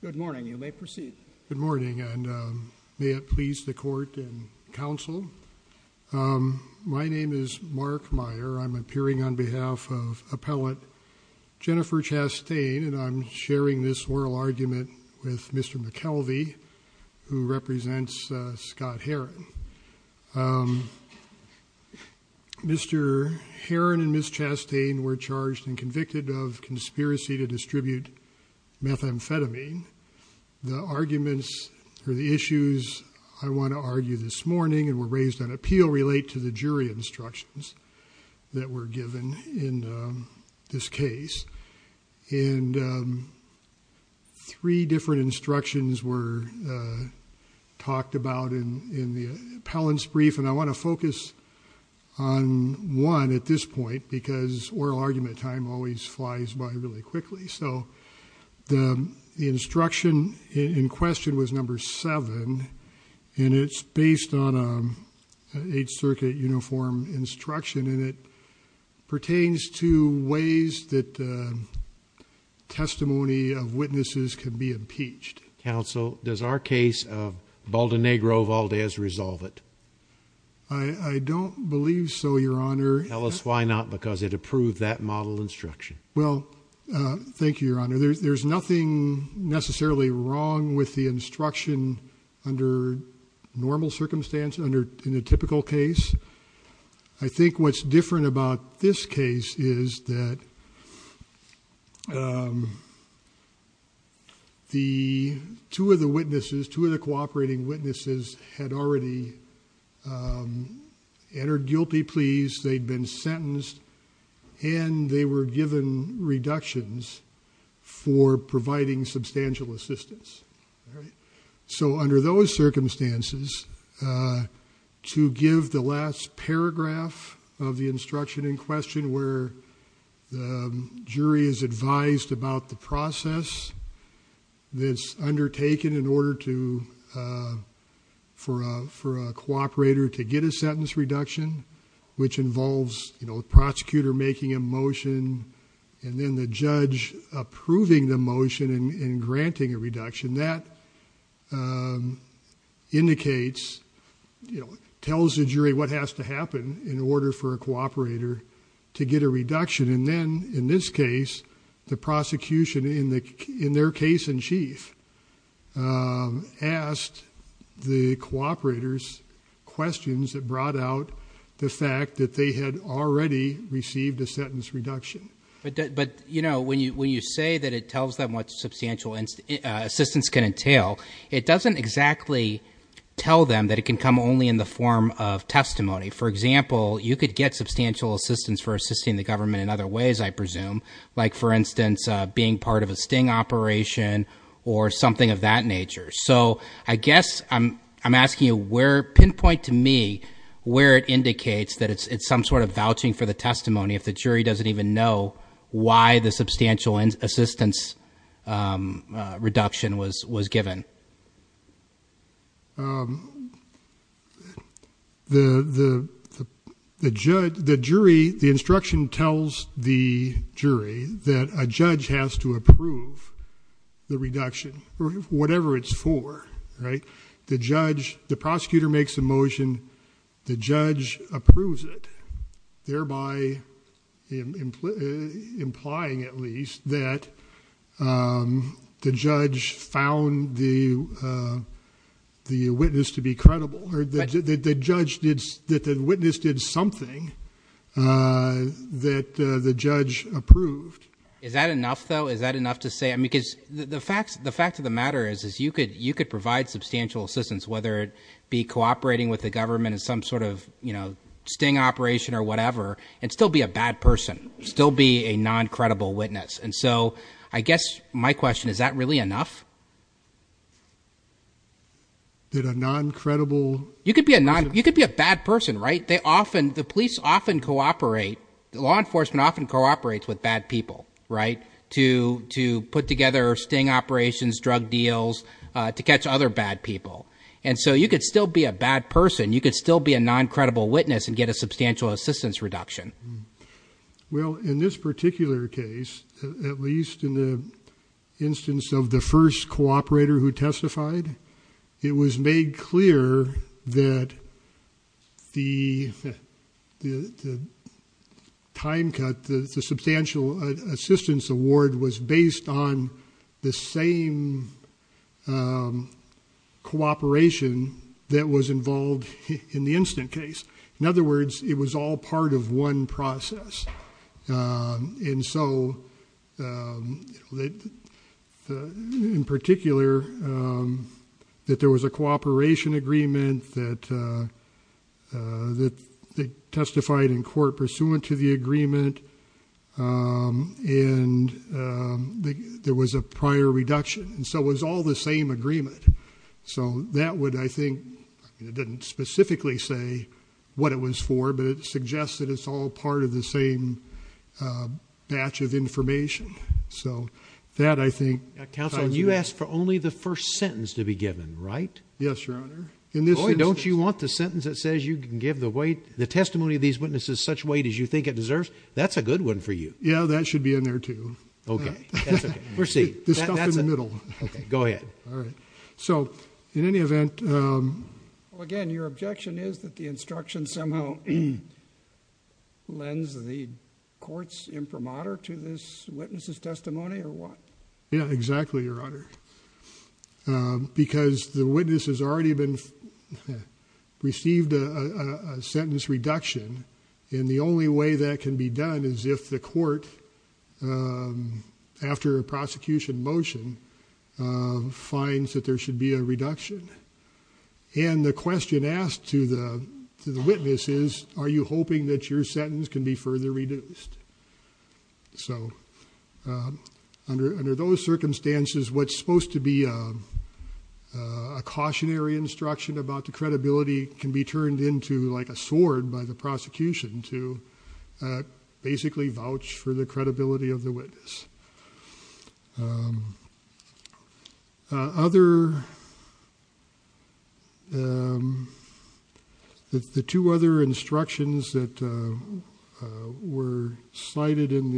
Good morning, you may proceed. Good morning, and may it please the court and counsel, my name is Mark Meyer. I'm appearing on behalf of appellate Jennifer Chastain, and I'm sharing this oral argument with Mr. McKelvey, who represents Scott Haren. Mr. Haren and Ms. Chastain were charged and convicted of conspiracy to distribute methamphetamine. The arguments or the issues I want to argue this morning and were raised on appeal relate to the jury instructions that were given in this case, and three different instructions were talked about in the appellant's brief, and I want to focus on one at this point because oral argument time always flies by really quickly. So the instruction in question was number seven, and it's based on an Eighth Circuit uniform instruction, and it pertains to ways that testimony of witnesses can be impeached. Counsel, does our case of Baldenegro-Valdez resolve it? I don't believe so, Your Honor. Tell us why not, because it approved that model instruction. Well, thank you, Your Honor. There's nothing necessarily wrong with the instruction under normal circumstance, under in a typical case. I think what's different about this case is that the two of the witnesses, two of the cooperating witnesses, had already entered guilty pleas, they'd been sentenced, and they were given reductions for providing substantial assistance. So under those circumstances, to give the last paragraph of the instruction in question where the jury is advised about the process that's undertaken in order for a cooperator to get a sentence reduction, which involves, you know, the prosecutor making a motion and then the judge approving the motion and granting a sentence, indicates, you know, tells the jury what has to happen in order for a cooperator to get a reduction. And then, in this case, the prosecution in their case in chief asked the cooperators questions that brought out the fact that they had already received a sentence reduction. But, you know, when you say that it tells them what substantial assistance can entail, it doesn't exactly tell them that it can come only in the form of testimony. For example, you could get substantial assistance for assisting the government in other ways, I presume, like, for instance, being part of a sting operation or something of that nature. So I guess I'm asking you, pinpoint to me where it indicates that it's some sort of vouching for the testimony if the jury, the instruction tells the jury that a judge has to approve the reduction, whatever it's for, right? The judge, the prosecutor makes a motion, the judge approves it, thereby implying, at least, that the judge found the witness to be credible, or that the witness did something that the judge approved. Is that enough, though? Is that enough to say? I mean, because the fact of the matter is you could provide substantial assistance, whether it be cooperating with the government in some sort of, you know, sting operation or whatever, and still be a bad person, still be a non-credible witness. And so I guess my question, is that really enough? That a non-credible... You could be a non, you could be a bad person, right? They often, the police often cooperate, law enforcement often cooperates with bad people, right? To put together sting operations, drug deals, to catch other bad people. And so you could still be a bad person, you could still be a non-credible witness and get a substantial assistance reduction. Well, in this particular case, at least in the instance of the first cooperator who testified, it was made clear that the time cut, the substantial assistance award was based on the same cooperation that was involved in the incident case. In other words, it was all part of one process. And so, in particular, that there was a cooperation agreement that testified in court pursuant to the agreement, and there was a prior reduction. And so it was all the same agreement. So that would, I think, it didn't specifically say what it was for, but it suggests that it's all part of the same batch of information. So that, I think... Counsel, you asked for only the first sentence to be given, right? Yes, Your Honor. Oh, and don't you want the sentence that says you can give the testimony of these witnesses such weight as you think it deserves? That's a good one for you. Yeah, that should be in there too. Okay, that's okay. Proceed. The stuff in the middle. Okay, go ahead. All right. So, in any event... Well, again, your objection is that the instruction somehow lends the court's imprimatur to this witness's testimony, or what? Yeah, exactly, Your Honor. Because the witness has already received a sentence reduction, and the only way that can be done is if the court, after a prosecution motion, finds that there should be a reduction. And the question asked to the witness is, are you hoping that your sentence can be further reduced? So, under those circumstances, what's supposed to be a cautionary instruction about the credibility can be turned into like a sword by the prosecution to basically vouch for the credibility of the witness. The two other instructions that were cited in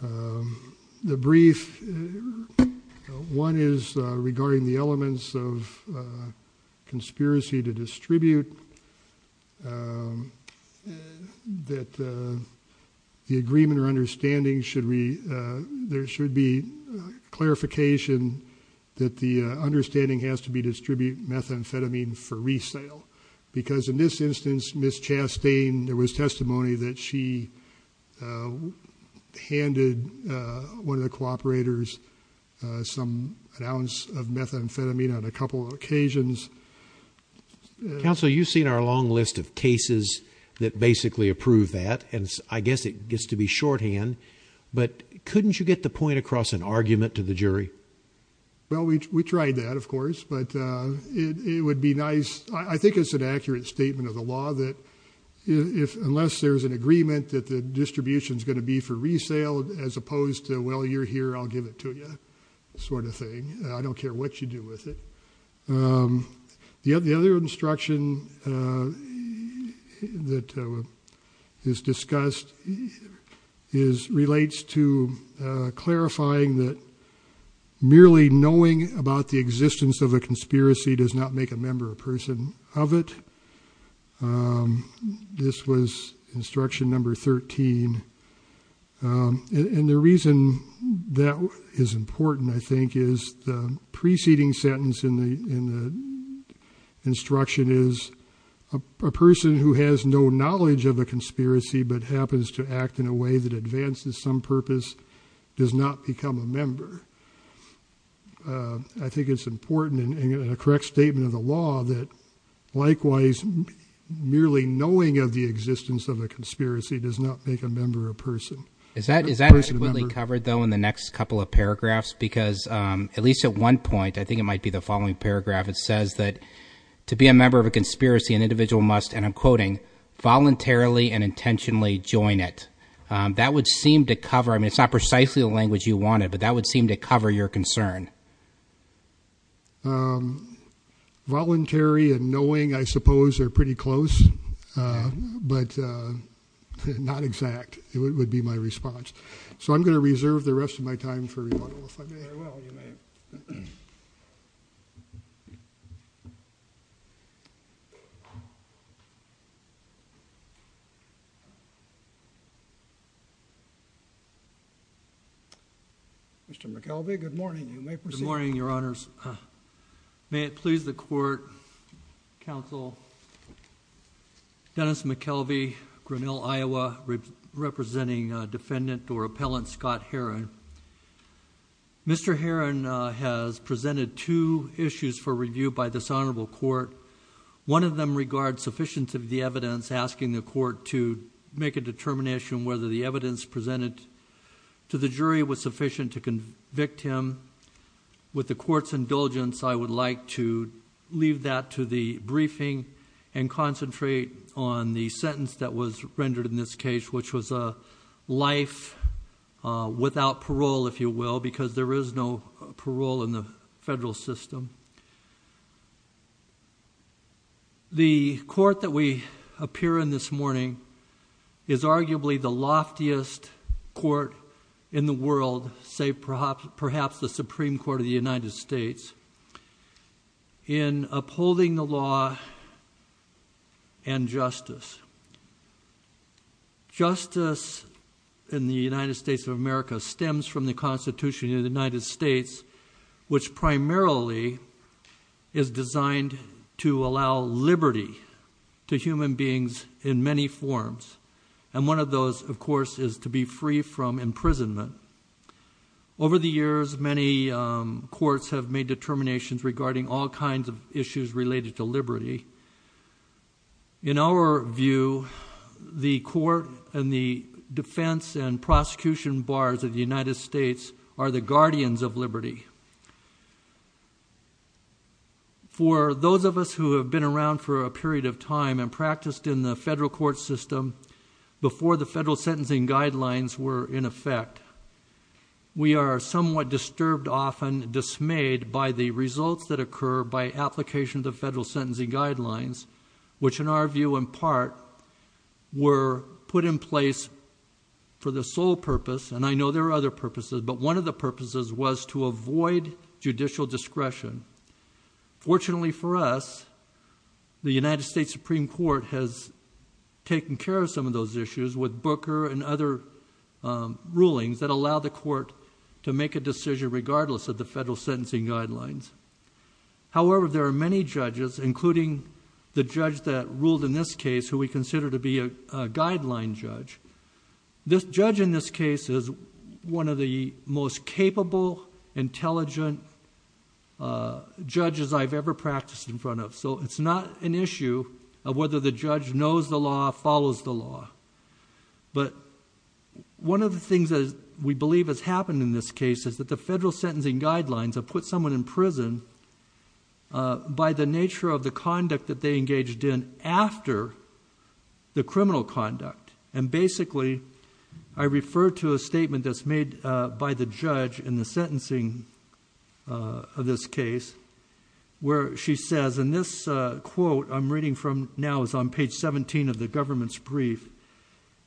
the brief—one is regarding the elements of conspiracy to distribute, that the executive order of the prosecution or understanding, there should be clarification that the understanding has to be distributed methamphetamine for resale. Because in this instance, Ms. Chastain, there was testimony that she handed one of the cooperators an ounce of methamphetamine on a couple of occasions. Counsel, you've seen our long list of cases that basically approve that, and I guess it gets to be shorthand, but couldn't you get the point across an argument to the jury? Well, we tried that, of course, but it would be nice—I think it's an accurate statement of the law that unless there's an agreement that the distribution's going to be for resale as opposed to, well, you're here, I'll give it to you, sort of thing. I don't care what you do with it. The other instruction that is discussed relates to clarifying that merely knowing about the existence of a conspiracy does not make a member or person of it. This was instruction number 13, and the reason that is important, I think, is the preceding sentence in the instruction is a person who has no knowledge of a conspiracy but happens to act in a way that advances some purpose does not become a member. I think it's important in a correct statement of the law that, likewise, merely knowing of the existence of a conspiracy does not make a member or person. Is that adequately covered, though, in the next couple of paragraphs? Because at least at one point—I think it might be the following paragraph—it says that to be a member of a conspiracy, an individual must, and I'm quoting, voluntarily and intentionally join it. That would seem to cover—I mean, it's not precisely the language you wanted, but that would seem to cover your concern. Voluntary and knowing, I suppose, are pretty close, but not exact would be my response. So I'm going to reserve the rest of my time for rebuttal, if I may. Very well, you may. Mr. McKelvey, good morning. You may proceed. Good morning, Your Honors. May it please the Court, Counsel Dennis McKelvey, Grinnell, Iowa, representing Defendant or Appellant Scott Heron. Mr. Heron has presented two issues for review by this Honorable Court. One of them regards sufficiency of the evidence, asking the Court to make a determination whether the evidence presented to the jury was sufficient to convict him. With the Court's indulgence, I would like to leave that to the briefing and concentrate on the sentence that was rendered in this case, which was a life without parole, if you will, because there is no parole in the federal system. The Court that we appear in this morning is arguably the loftiest Court in the world, say perhaps the Supreme Court of the United States, in upholding the law and justice. Justice in the United States of America stems from the Constitution of the United States, which primarily is designed to allow liberty to human beings in many forms. And one of those, of course, is to be free from imprisonment. Over the years, many courts have made determinations regarding all kinds of issues related to liberty. In our view, the Court and the defense and prosecution bars of the United States are the guardians of liberty. For those of us who have been around for a period of time and practiced in the federal court system before the federal sentencing guidelines were in effect, we are somewhat disturbed, often dismayed, by the results that occur by application of the federal sentencing guidelines, which in our view, in part, were put in place for the sole purpose, and I know there are other purposes, but one of the purposes was to avoid judicial discretion. Fortunately for us, the United States Supreme Court has taken care of some of those issues with Booker and other rulings that allow the court to make a decision regardless of the federal sentencing guidelines. However, there are many judges, including the judge that ruled in this case, who we consider to be a guideline judge. This judge in this case is one of the most capable, intelligent judges I've ever practiced in front of, so it's not an issue of whether the judge knows the law, follows the law, but one of the things that we believe has happened in this case is that the federal sentencing guidelines have put someone in prison by the nature of the conduct that they engaged in after the criminal conduct, and basically, I refer to a statement that's made by the judge in the sentencing of this case where she says, and this quote I'm reading from now is on page 17 of the government's brief,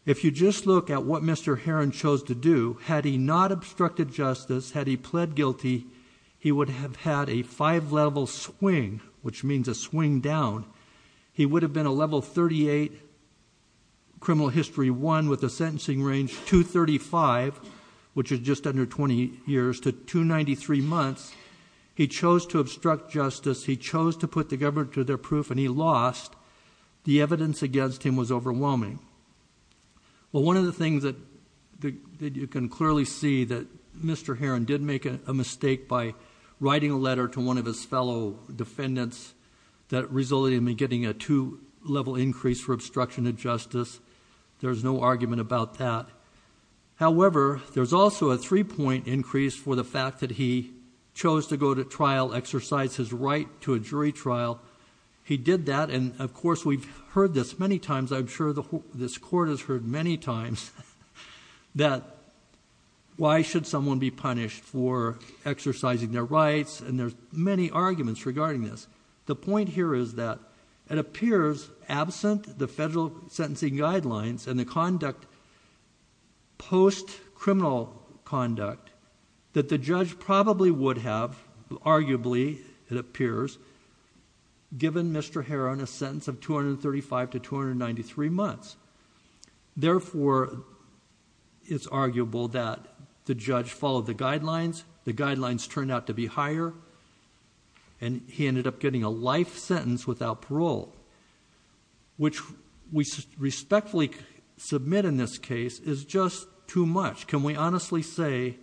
if you just look at what Mr. Heron chose to do, had he not obstructed justice, had he pled guilty, he would have had a five-level swing, which means a swing down. He would have been a level 38 criminal history one with a sentencing range 235, which is just under 20 years, to 293 months. He chose to obstruct justice. He chose to put the government to their proof, and he lost. The evidence against him was overwhelming. Well, one of the things that you can clearly see that Mr. Heron did make a mistake by writing a letter to one of his fellow defendants that resulted in him getting a two-level increase for obstruction of justice. There's no argument about that. However, there's also a three-point increase for the fact that he chose to go to trial, exercise his right to a jury trial. He did that, and of course, we've heard this many times. I'm sure this court has heard many times that why should someone be The point here is that it appears, absent the federal sentencing guidelines and the conduct post-criminal conduct, that the judge probably would have, arguably it appears, given Mr. Heron a sentence of 235 to 293 months. Therefore, it's arguable that the judge followed the guidelines. The guidelines turned out to be higher, and he ended up getting a life sentence without parole, which we respectfully submit in this case is just too much. Can we honestly say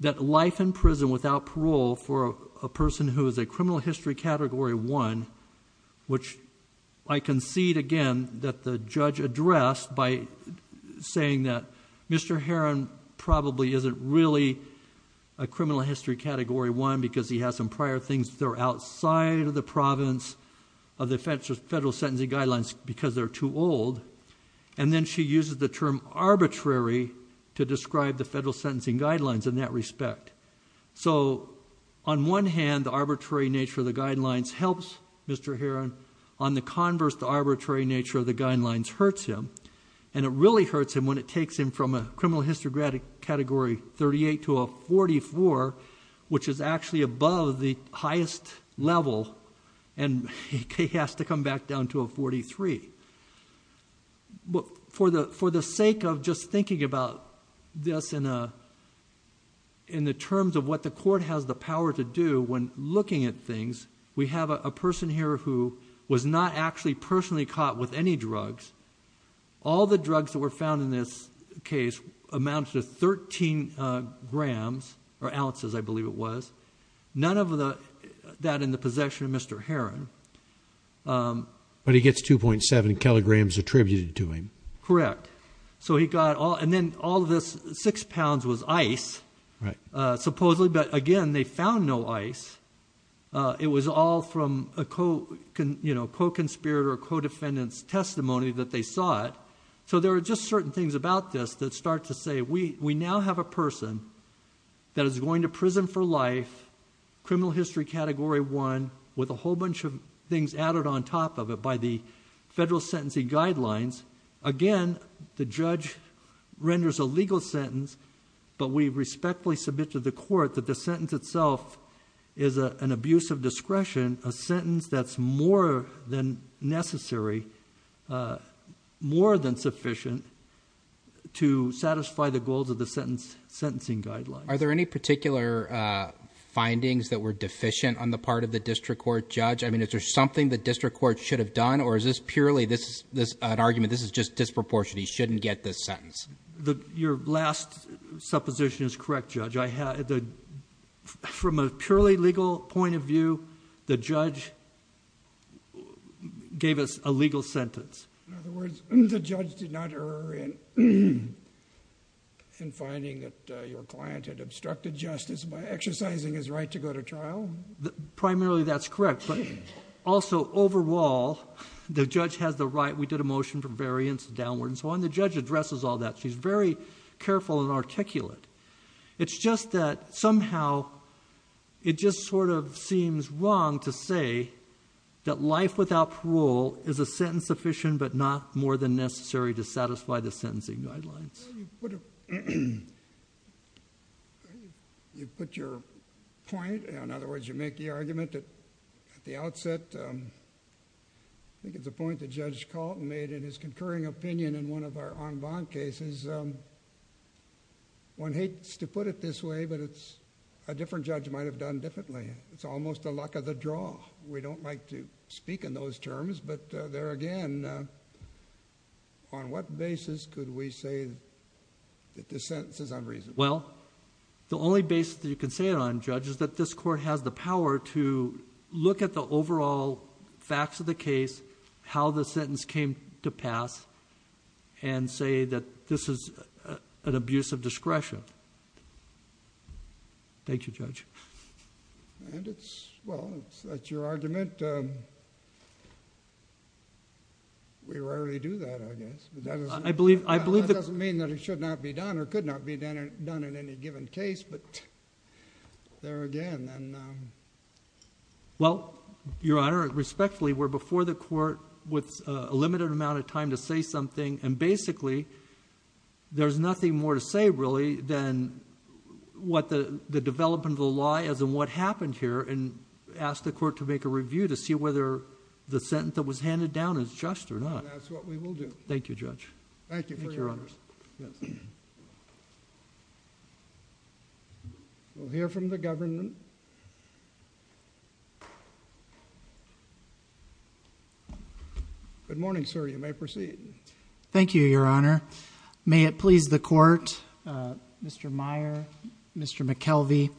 that life in prison without parole for a person who is a criminal history category one, which I concede again that the judge addressed by saying that Mr. Heron probably isn't really a criminal history category one because he has some prior things that are outside of the province of the federal sentencing guidelines because they're too old, and then she uses the term arbitrary to describe the federal sentencing guidelines in that respect. So on one hand, the arbitrary nature of the guidelines helps Mr. Heron. On the converse, the arbitrary nature of the guidelines hurts him, and it really hurts him when it takes him from a criminal history category 38 to a 44, which is actually above the highest level, and he has to come back down to a 43. For the sake of just thinking about this in the terms of what the court has the power to do when looking at things, we have a person here who was not actually personally caught with any drugs. All the drugs that were found in this case amount to 13 grams or ounces, I believe it was. None of that in the possession of Mr. Heron. But he gets 2.7 kilograms attributed to him. Correct. So he got all, and then all this six pounds was ice, supposedly, but again, they found no ice. It was all from a co-conspirator or co-defendant's testimony that they saw it. So there are just certain things about this that start to say we now have a person that is going to prison for life, criminal history category one, with a whole bunch of things added on top of it by the federal sentencing guidelines. Again, the judge renders a legal sentence, but we respectfully submit to the court that the sentence itself is an abuse of discretion, a sentence that's more than necessary, more than sufficient to satisfy the goals of the sentencing guidelines. Are there any particular findings that were deficient on the part of the district court judge? I mean, is there something the district court should have done, or is this purely an argument, this is just disproportionate, we shouldn't get this sentence? Your last supposition is correct, Judge. From a purely legal point of view, the judge gave us a legal sentence. In other words, the judge did not err in finding that your client had obstructed justice by exercising his right to go to trial? Primarily, that's correct. But also, overall, the judge has the right. We did a motion for the judge to address all that. She's very careful and articulate. It's just that somehow, it just sort of seems wrong to say that life without parole is a sentence sufficient but not more than necessary to satisfy the sentencing guidelines. You put your point, in other words, you make the argument at the outset. I think it's a point that Judge Calton made in his en banc cases. One hates to put it this way, but a different judge might have done differently. It's almost the luck of the draw. We don't like to speak in those terms, but there again, on what basis could we say that this sentence is unreasonable? Well, the only basis that you can say it on, Judge, is that this court has the power to look at the overall facts of the case, how the sentence came to pass, and say that this is an abuse of discretion. Thank you, Judge. Well, that's your argument. We rarely do that, I guess. That doesn't mean that it should not be done or could not be done in any given case, but there again. Well, Your Honor, respectfully, we're before the court with a limited amount of time to say something, and basically there's nothing more to say really than what the development of the law is and what happened here, and ask the court to make a review to see whether the sentence that was handed down is just or not. Thank you, Judge. Thank you, Your Honor. We'll hear from the government. Good morning, sir. You may proceed. Thank you, Your Honor. May it please the court, Mr. Meyer, Mr. McKelvey,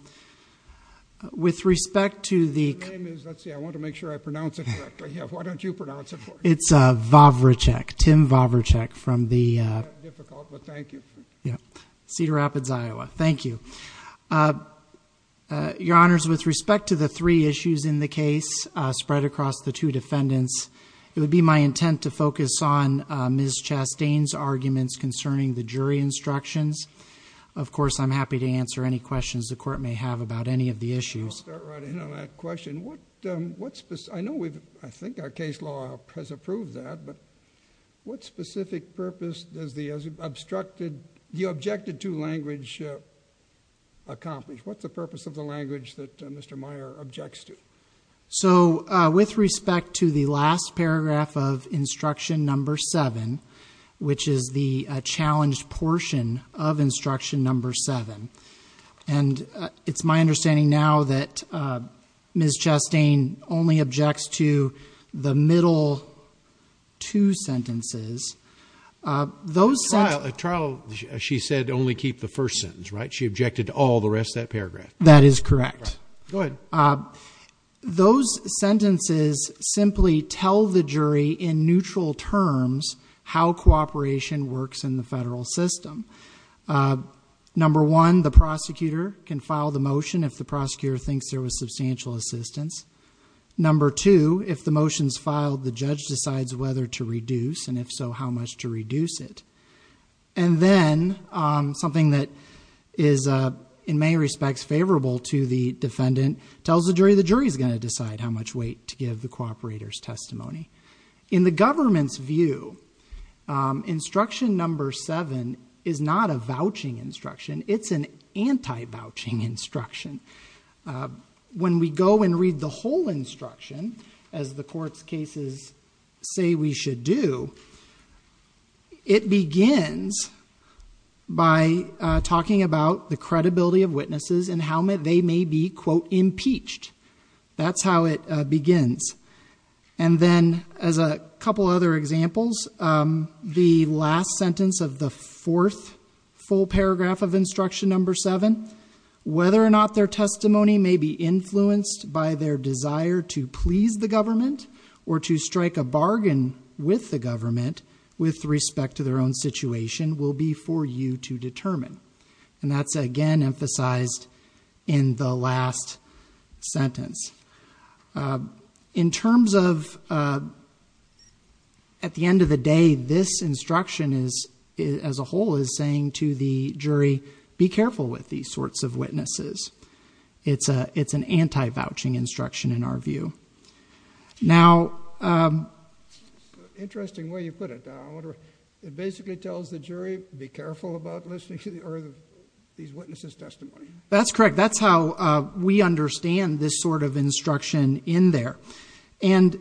with respect to the- Your name is, let's see, I want to make sure I pronounce it correctly. Why don't you pronounce it for me? It's Vavracek, Tim Vavracek from the- Difficult, but thank you. Yeah. Cedar Rapids, Iowa. Thank you. Your Honors, with respect to the three issues in the case spread across the two defendants, it would be my intent to focus on Ms. Chastain's arguments concerning the jury instructions. Of course, I'm happy to answer any questions the court may have about any of the issues. I'll start right in on that question. What specific- I know we've, I think our case law has approved that, but what specific purpose does the objected to language accomplish? What's the purpose of the language that Mr. Meyer objects to? With respect to the last paragraph of instruction number seven, which is the Chastain only objects to the middle two sentences, those- At trial, she said only keep the first sentence, right? She objected to all the rest of that paragraph. That is correct. Those sentences simply tell the jury, in neutral terms, how cooperation works in the federal system. Number one, the prosecutor can file the motion if the prosecutor thinks there is substantial assistance. Number two, if the motion is filed, the judge decides whether to reduce, and if so, how much to reduce it. And then, something that is in many respects favorable to the defendant, tells the jury, the jury is going to decide how much weight to give the cooperator's testimony. In the government's view, instruction number seven is not a vouching instruction. It's an anti-vouching instruction. When we go and read the whole instruction, as the court's cases say we should do, it begins by talking about the credibility of witnesses and how they may be, quote, impeached. That's how it begins. And then, as a couple other examples, the last sentence of the fourth full paragraph of instruction number seven, whether or not their testimony may be influenced by their desire to please the government or to strike a bargain with the government with respect to their own situation will be for you to determine. And that's, again, emphasized in the last sentence. In terms of, at the end of the day, this instruction as a whole is saying to the jury, be careful with these sorts of witnesses. It's an anti-vouching instruction in our view. Now...... Interesting way you put it. It basically tells the jury, be careful about listening to these witnesses' testimony. That's correct. That's how we understand this sort of instruction in there. And,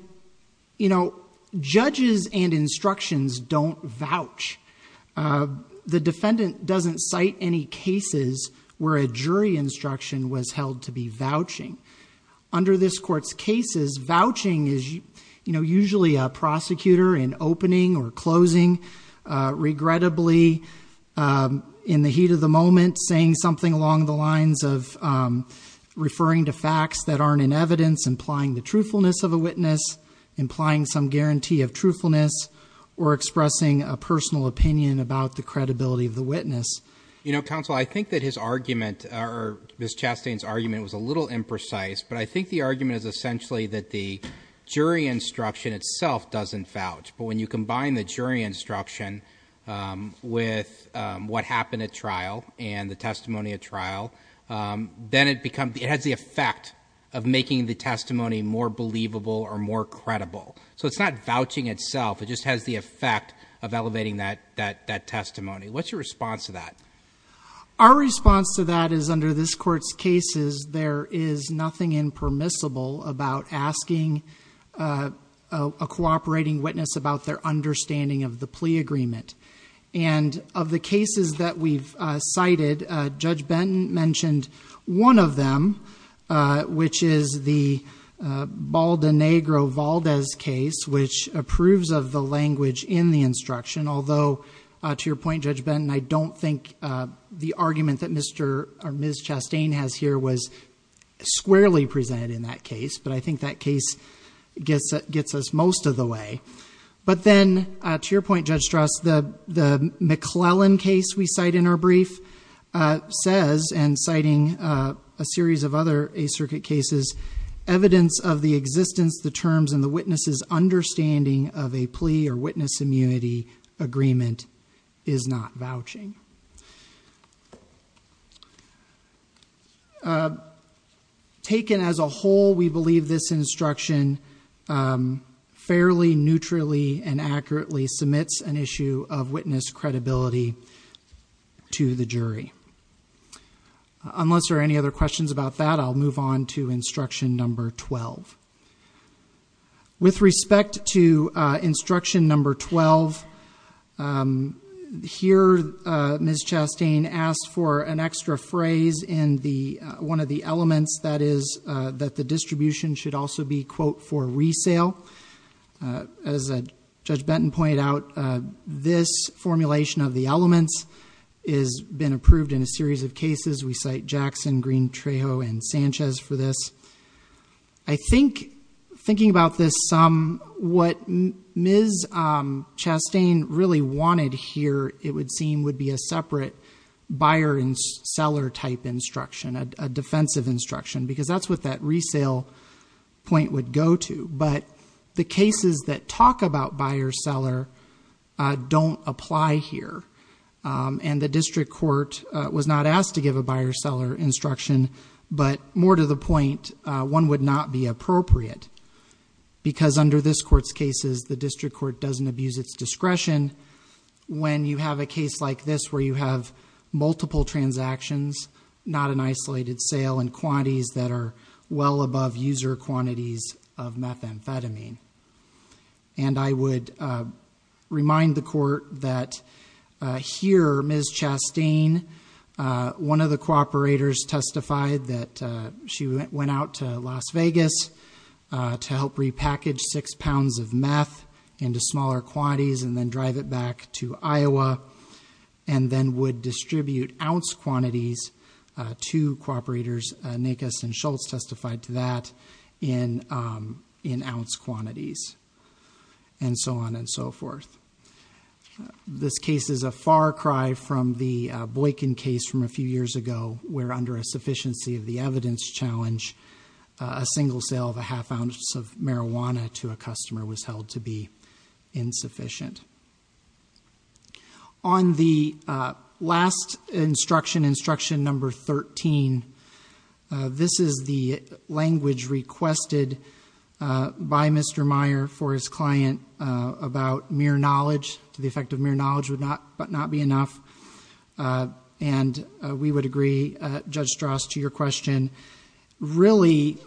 you know, judges and instructions don't vouch. The defendant doesn't cite any cases where a jury instruction was held to be vouching. Under this court's cases, vouching is usually a prosecutor in opening or closing, regrettably, in the heat of the moment, saying something along the lines of referring to facts that aren't in evidence, implying the truthfulness of a witness, implying some guarantee of truthfulness, or expressing a personal opinion about the credibility of the witness. You know, counsel, I think that his argument, or Ms. Chastain's argument, was a little imprecise. But I think the argument is essentially that the jury instruction itself doesn't vouch. When you combine the jury instruction with what happened at trial and the testimony at trial, then it has the effect of making the testimony more believable or more credible. So it's not vouching itself. It just has the effect of elevating that testimony. What's your response to that? Our response to that is, under this court's cases, there is nothing impermissible about asking a cooperating witness about their understanding of the plea agreement. Of the cases that we've cited, Judge Benton mentioned one of them, which is the Baldenegro-Valdez case, which approves of the language in the instruction. Although, to your point, Judge Benton, I don't think the argument that Ms. Chastain has here was squarely presented in that case. But I think that case gets us most of the way. But then, to your point, Judge Strauss, the McClellan case we cite in our brief says, and citing a series of other Eighth Circuit cases, evidence of the existence, the terms, and the witness's understanding of a plea or witness immunity agreement is not vouching. Taken as a whole, we believe this instruction fairly, neutrally, and accurately submits an issue of witness credibility to the jury. Unless there are any other questions about that, I'll move on to instruction number 12. With respect to instruction number 12, here, Ms. Chastain asked for an extra phrase in one of the elements, that is, that the distribution should also be, quote, for resale. As Judge Benton pointed out, this formulation of the elements has been approved in a series of cases. We cite Jackson, Green, Trejo, and Sanchez for this. I think, thinking about this, what Ms. Chastain really wanted here, it would seem, would be a separate buyer and seller type instruction, a defensive instruction, because that's what that resale point would go to. But the cases that talk about buyer-seller don't apply here. The district court was not asked to give a buyer-seller instruction, but more to the point, one would not be appropriate, because under this court's cases, the district court doesn't abuse its discretion when you have a case like this, where you have multiple transactions, not an isolated sale, and quantities that are well above user quantities of methamphetamine. I would remind the court that here, Ms. Chastain, one of the cooperators testified that she went out to Las Vegas to help repackage six pounds of meth into smaller quantities and then drive it back to Iowa, and then would distribute ounce quantities to cooperators. Nakes and Schultz testified to that in ounce quantities, and so on and so forth. This case is a far cry from the Boykin case from a few years ago, where under a sufficiency of the evidence challenge, a single sale of a half ounce of marijuana to a customer was held to be insufficient. On the last instruction, instruction number 13, this is the language requested by Mr. Meyer for his client about mere knowledge. The effect of mere knowledge would not be enough, and we would agree, Judge Strauss, to your question. Really,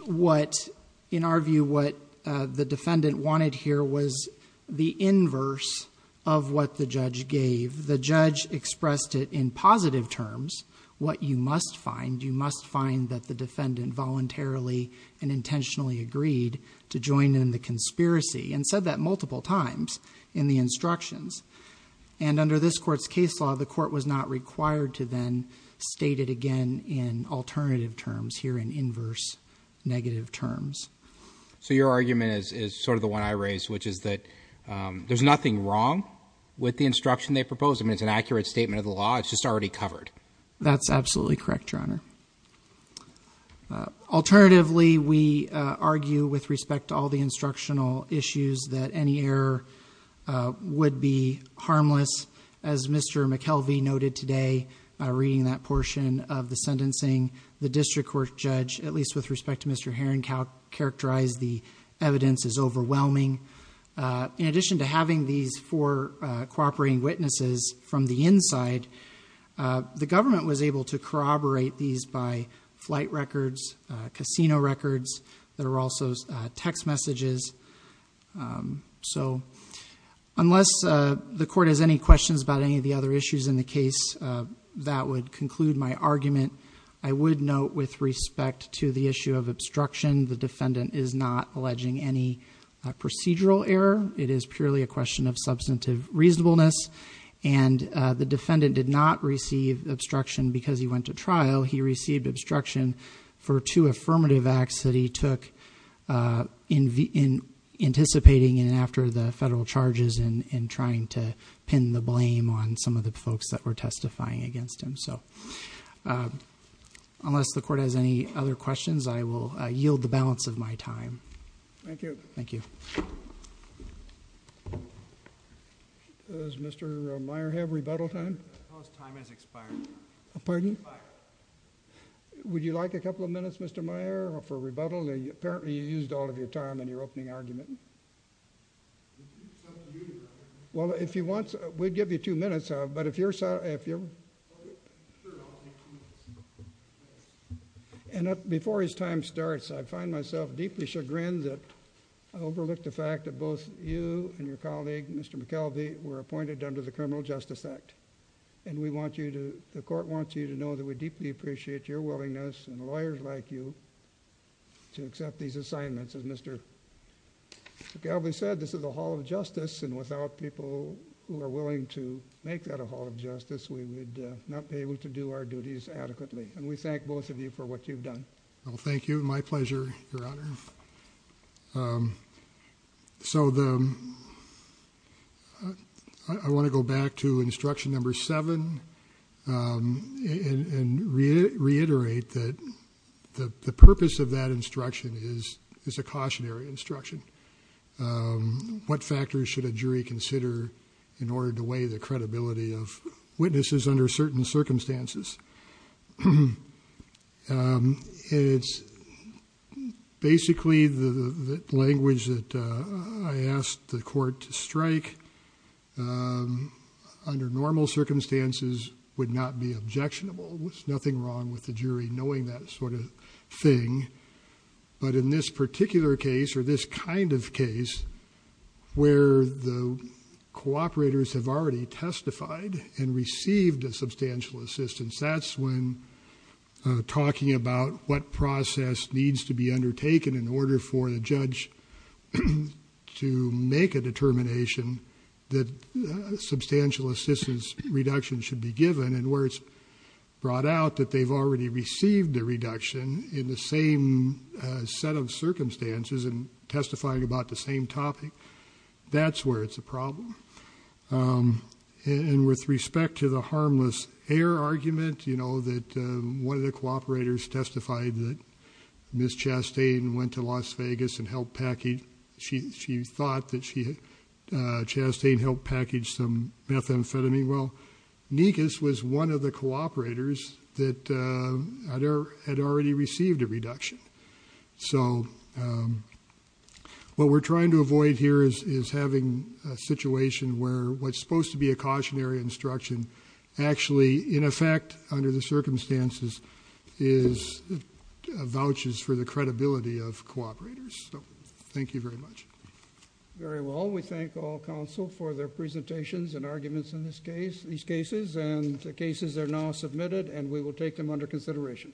in our view, what the defendant wanted here was the inverse of what the judge gave. The judge expressed it in positive terms, what you must find. You must find that the defendant voluntarily and intentionally agreed to join in the conspiracy, and said that multiple times in the instructions. And under this court's case law, the court was not required to then state it again in alternative terms here, in inverse negative terms. So your argument is sort of the one I raised, which is that there's nothing wrong with the instruction they proposed. I mean, it's an accurate statement of the law. It's just already covered. That's absolutely correct, Your Honor. Alternatively, we argue with respect to all the instructional issues that any error would be harmless. As Mr. McKelvey noted today, reading that portion of the sentencing, the district court judge, at least with respect to Mr. Heron, characterized the evidence as overwhelming. In addition to having these four cooperating witnesses from the inside, the government was able to corroborate these by flight records, casino records, that are also text messages. So unless the court has any questions about any of the other issues in the case, that would conclude my argument. I would note with respect to the issue of obstruction, the defendant is not alleging any procedural error. It is purely a question of substantive reasonableness. And the defendant did not receive obstruction because he went to trial. He received obstruction for two affirmative acts that he took anticipating and after the federal charges and trying to pin the blame on some of the folks that were testifying against him. Unless the court has any other questions, I will yield the balance of my time. Thank you. Thank you. Does Mr. Meyer have rebuttal time? Suppose time has expired. Pardon? Would you like a couple of minutes, Mr. Meyer, for rebuttal? Apparently you used all of your time in your opening argument. Well, if you want, we'd give you two minutes, but if you're sorry, if you're... And before his time starts, I find myself deeply chagrined that I overlooked the fact that both you and your colleague, Mr. McKelvey, were appointed under the Criminal Justice Act. And we want you to... The court wants you to know that we deeply appreciate your willingness, and lawyers like you, to accept these assignments. As Mr. McKelvey said, this is a hall of justice, and without people who are willing to make that a hall of justice, we would not be able to do our duties adequately. And we thank both of you for what you've done. Well, thank you. My pleasure, Your Honor. So I want to go back to instruction number seven, and reiterate that the purpose of that instruction is a cautionary instruction. What factors should a jury consider in order to weigh the credibility of witnesses under certain circumstances? And it's basically the language that I asked the court to strike. Under normal circumstances, would not be objectionable. There's nothing wrong with the jury knowing that sort of thing. But in this particular case, or this kind of case, where the cooperators have already testified and received a substantial assistance, that's when talking about what process needs to be undertaken in order for the judge to make a determination that substantial assistance reduction should be given. And where it's brought out that they've already received a reduction in the same set of circumstances, and testifying about the same topic, that's where it's a problem. And with respect to the harmless heir argument, you know, that one of the cooperators testified that Ms. Chastain went to Las Vegas and helped package, she thought that Chastain helped package some methamphetamine. Well, Nikas was one of the cooperators that had already received a reduction. So, what we're trying to avoid here is having a situation where what's supposed to be a cautionary instruction, actually, in effect, under the circumstances, is vouchers for the credibility of cooperators. So, thank you very much. Very well. We thank all counsel for their presentations and arguments in these cases. And the cases are now submitted, and we will take them under consideration.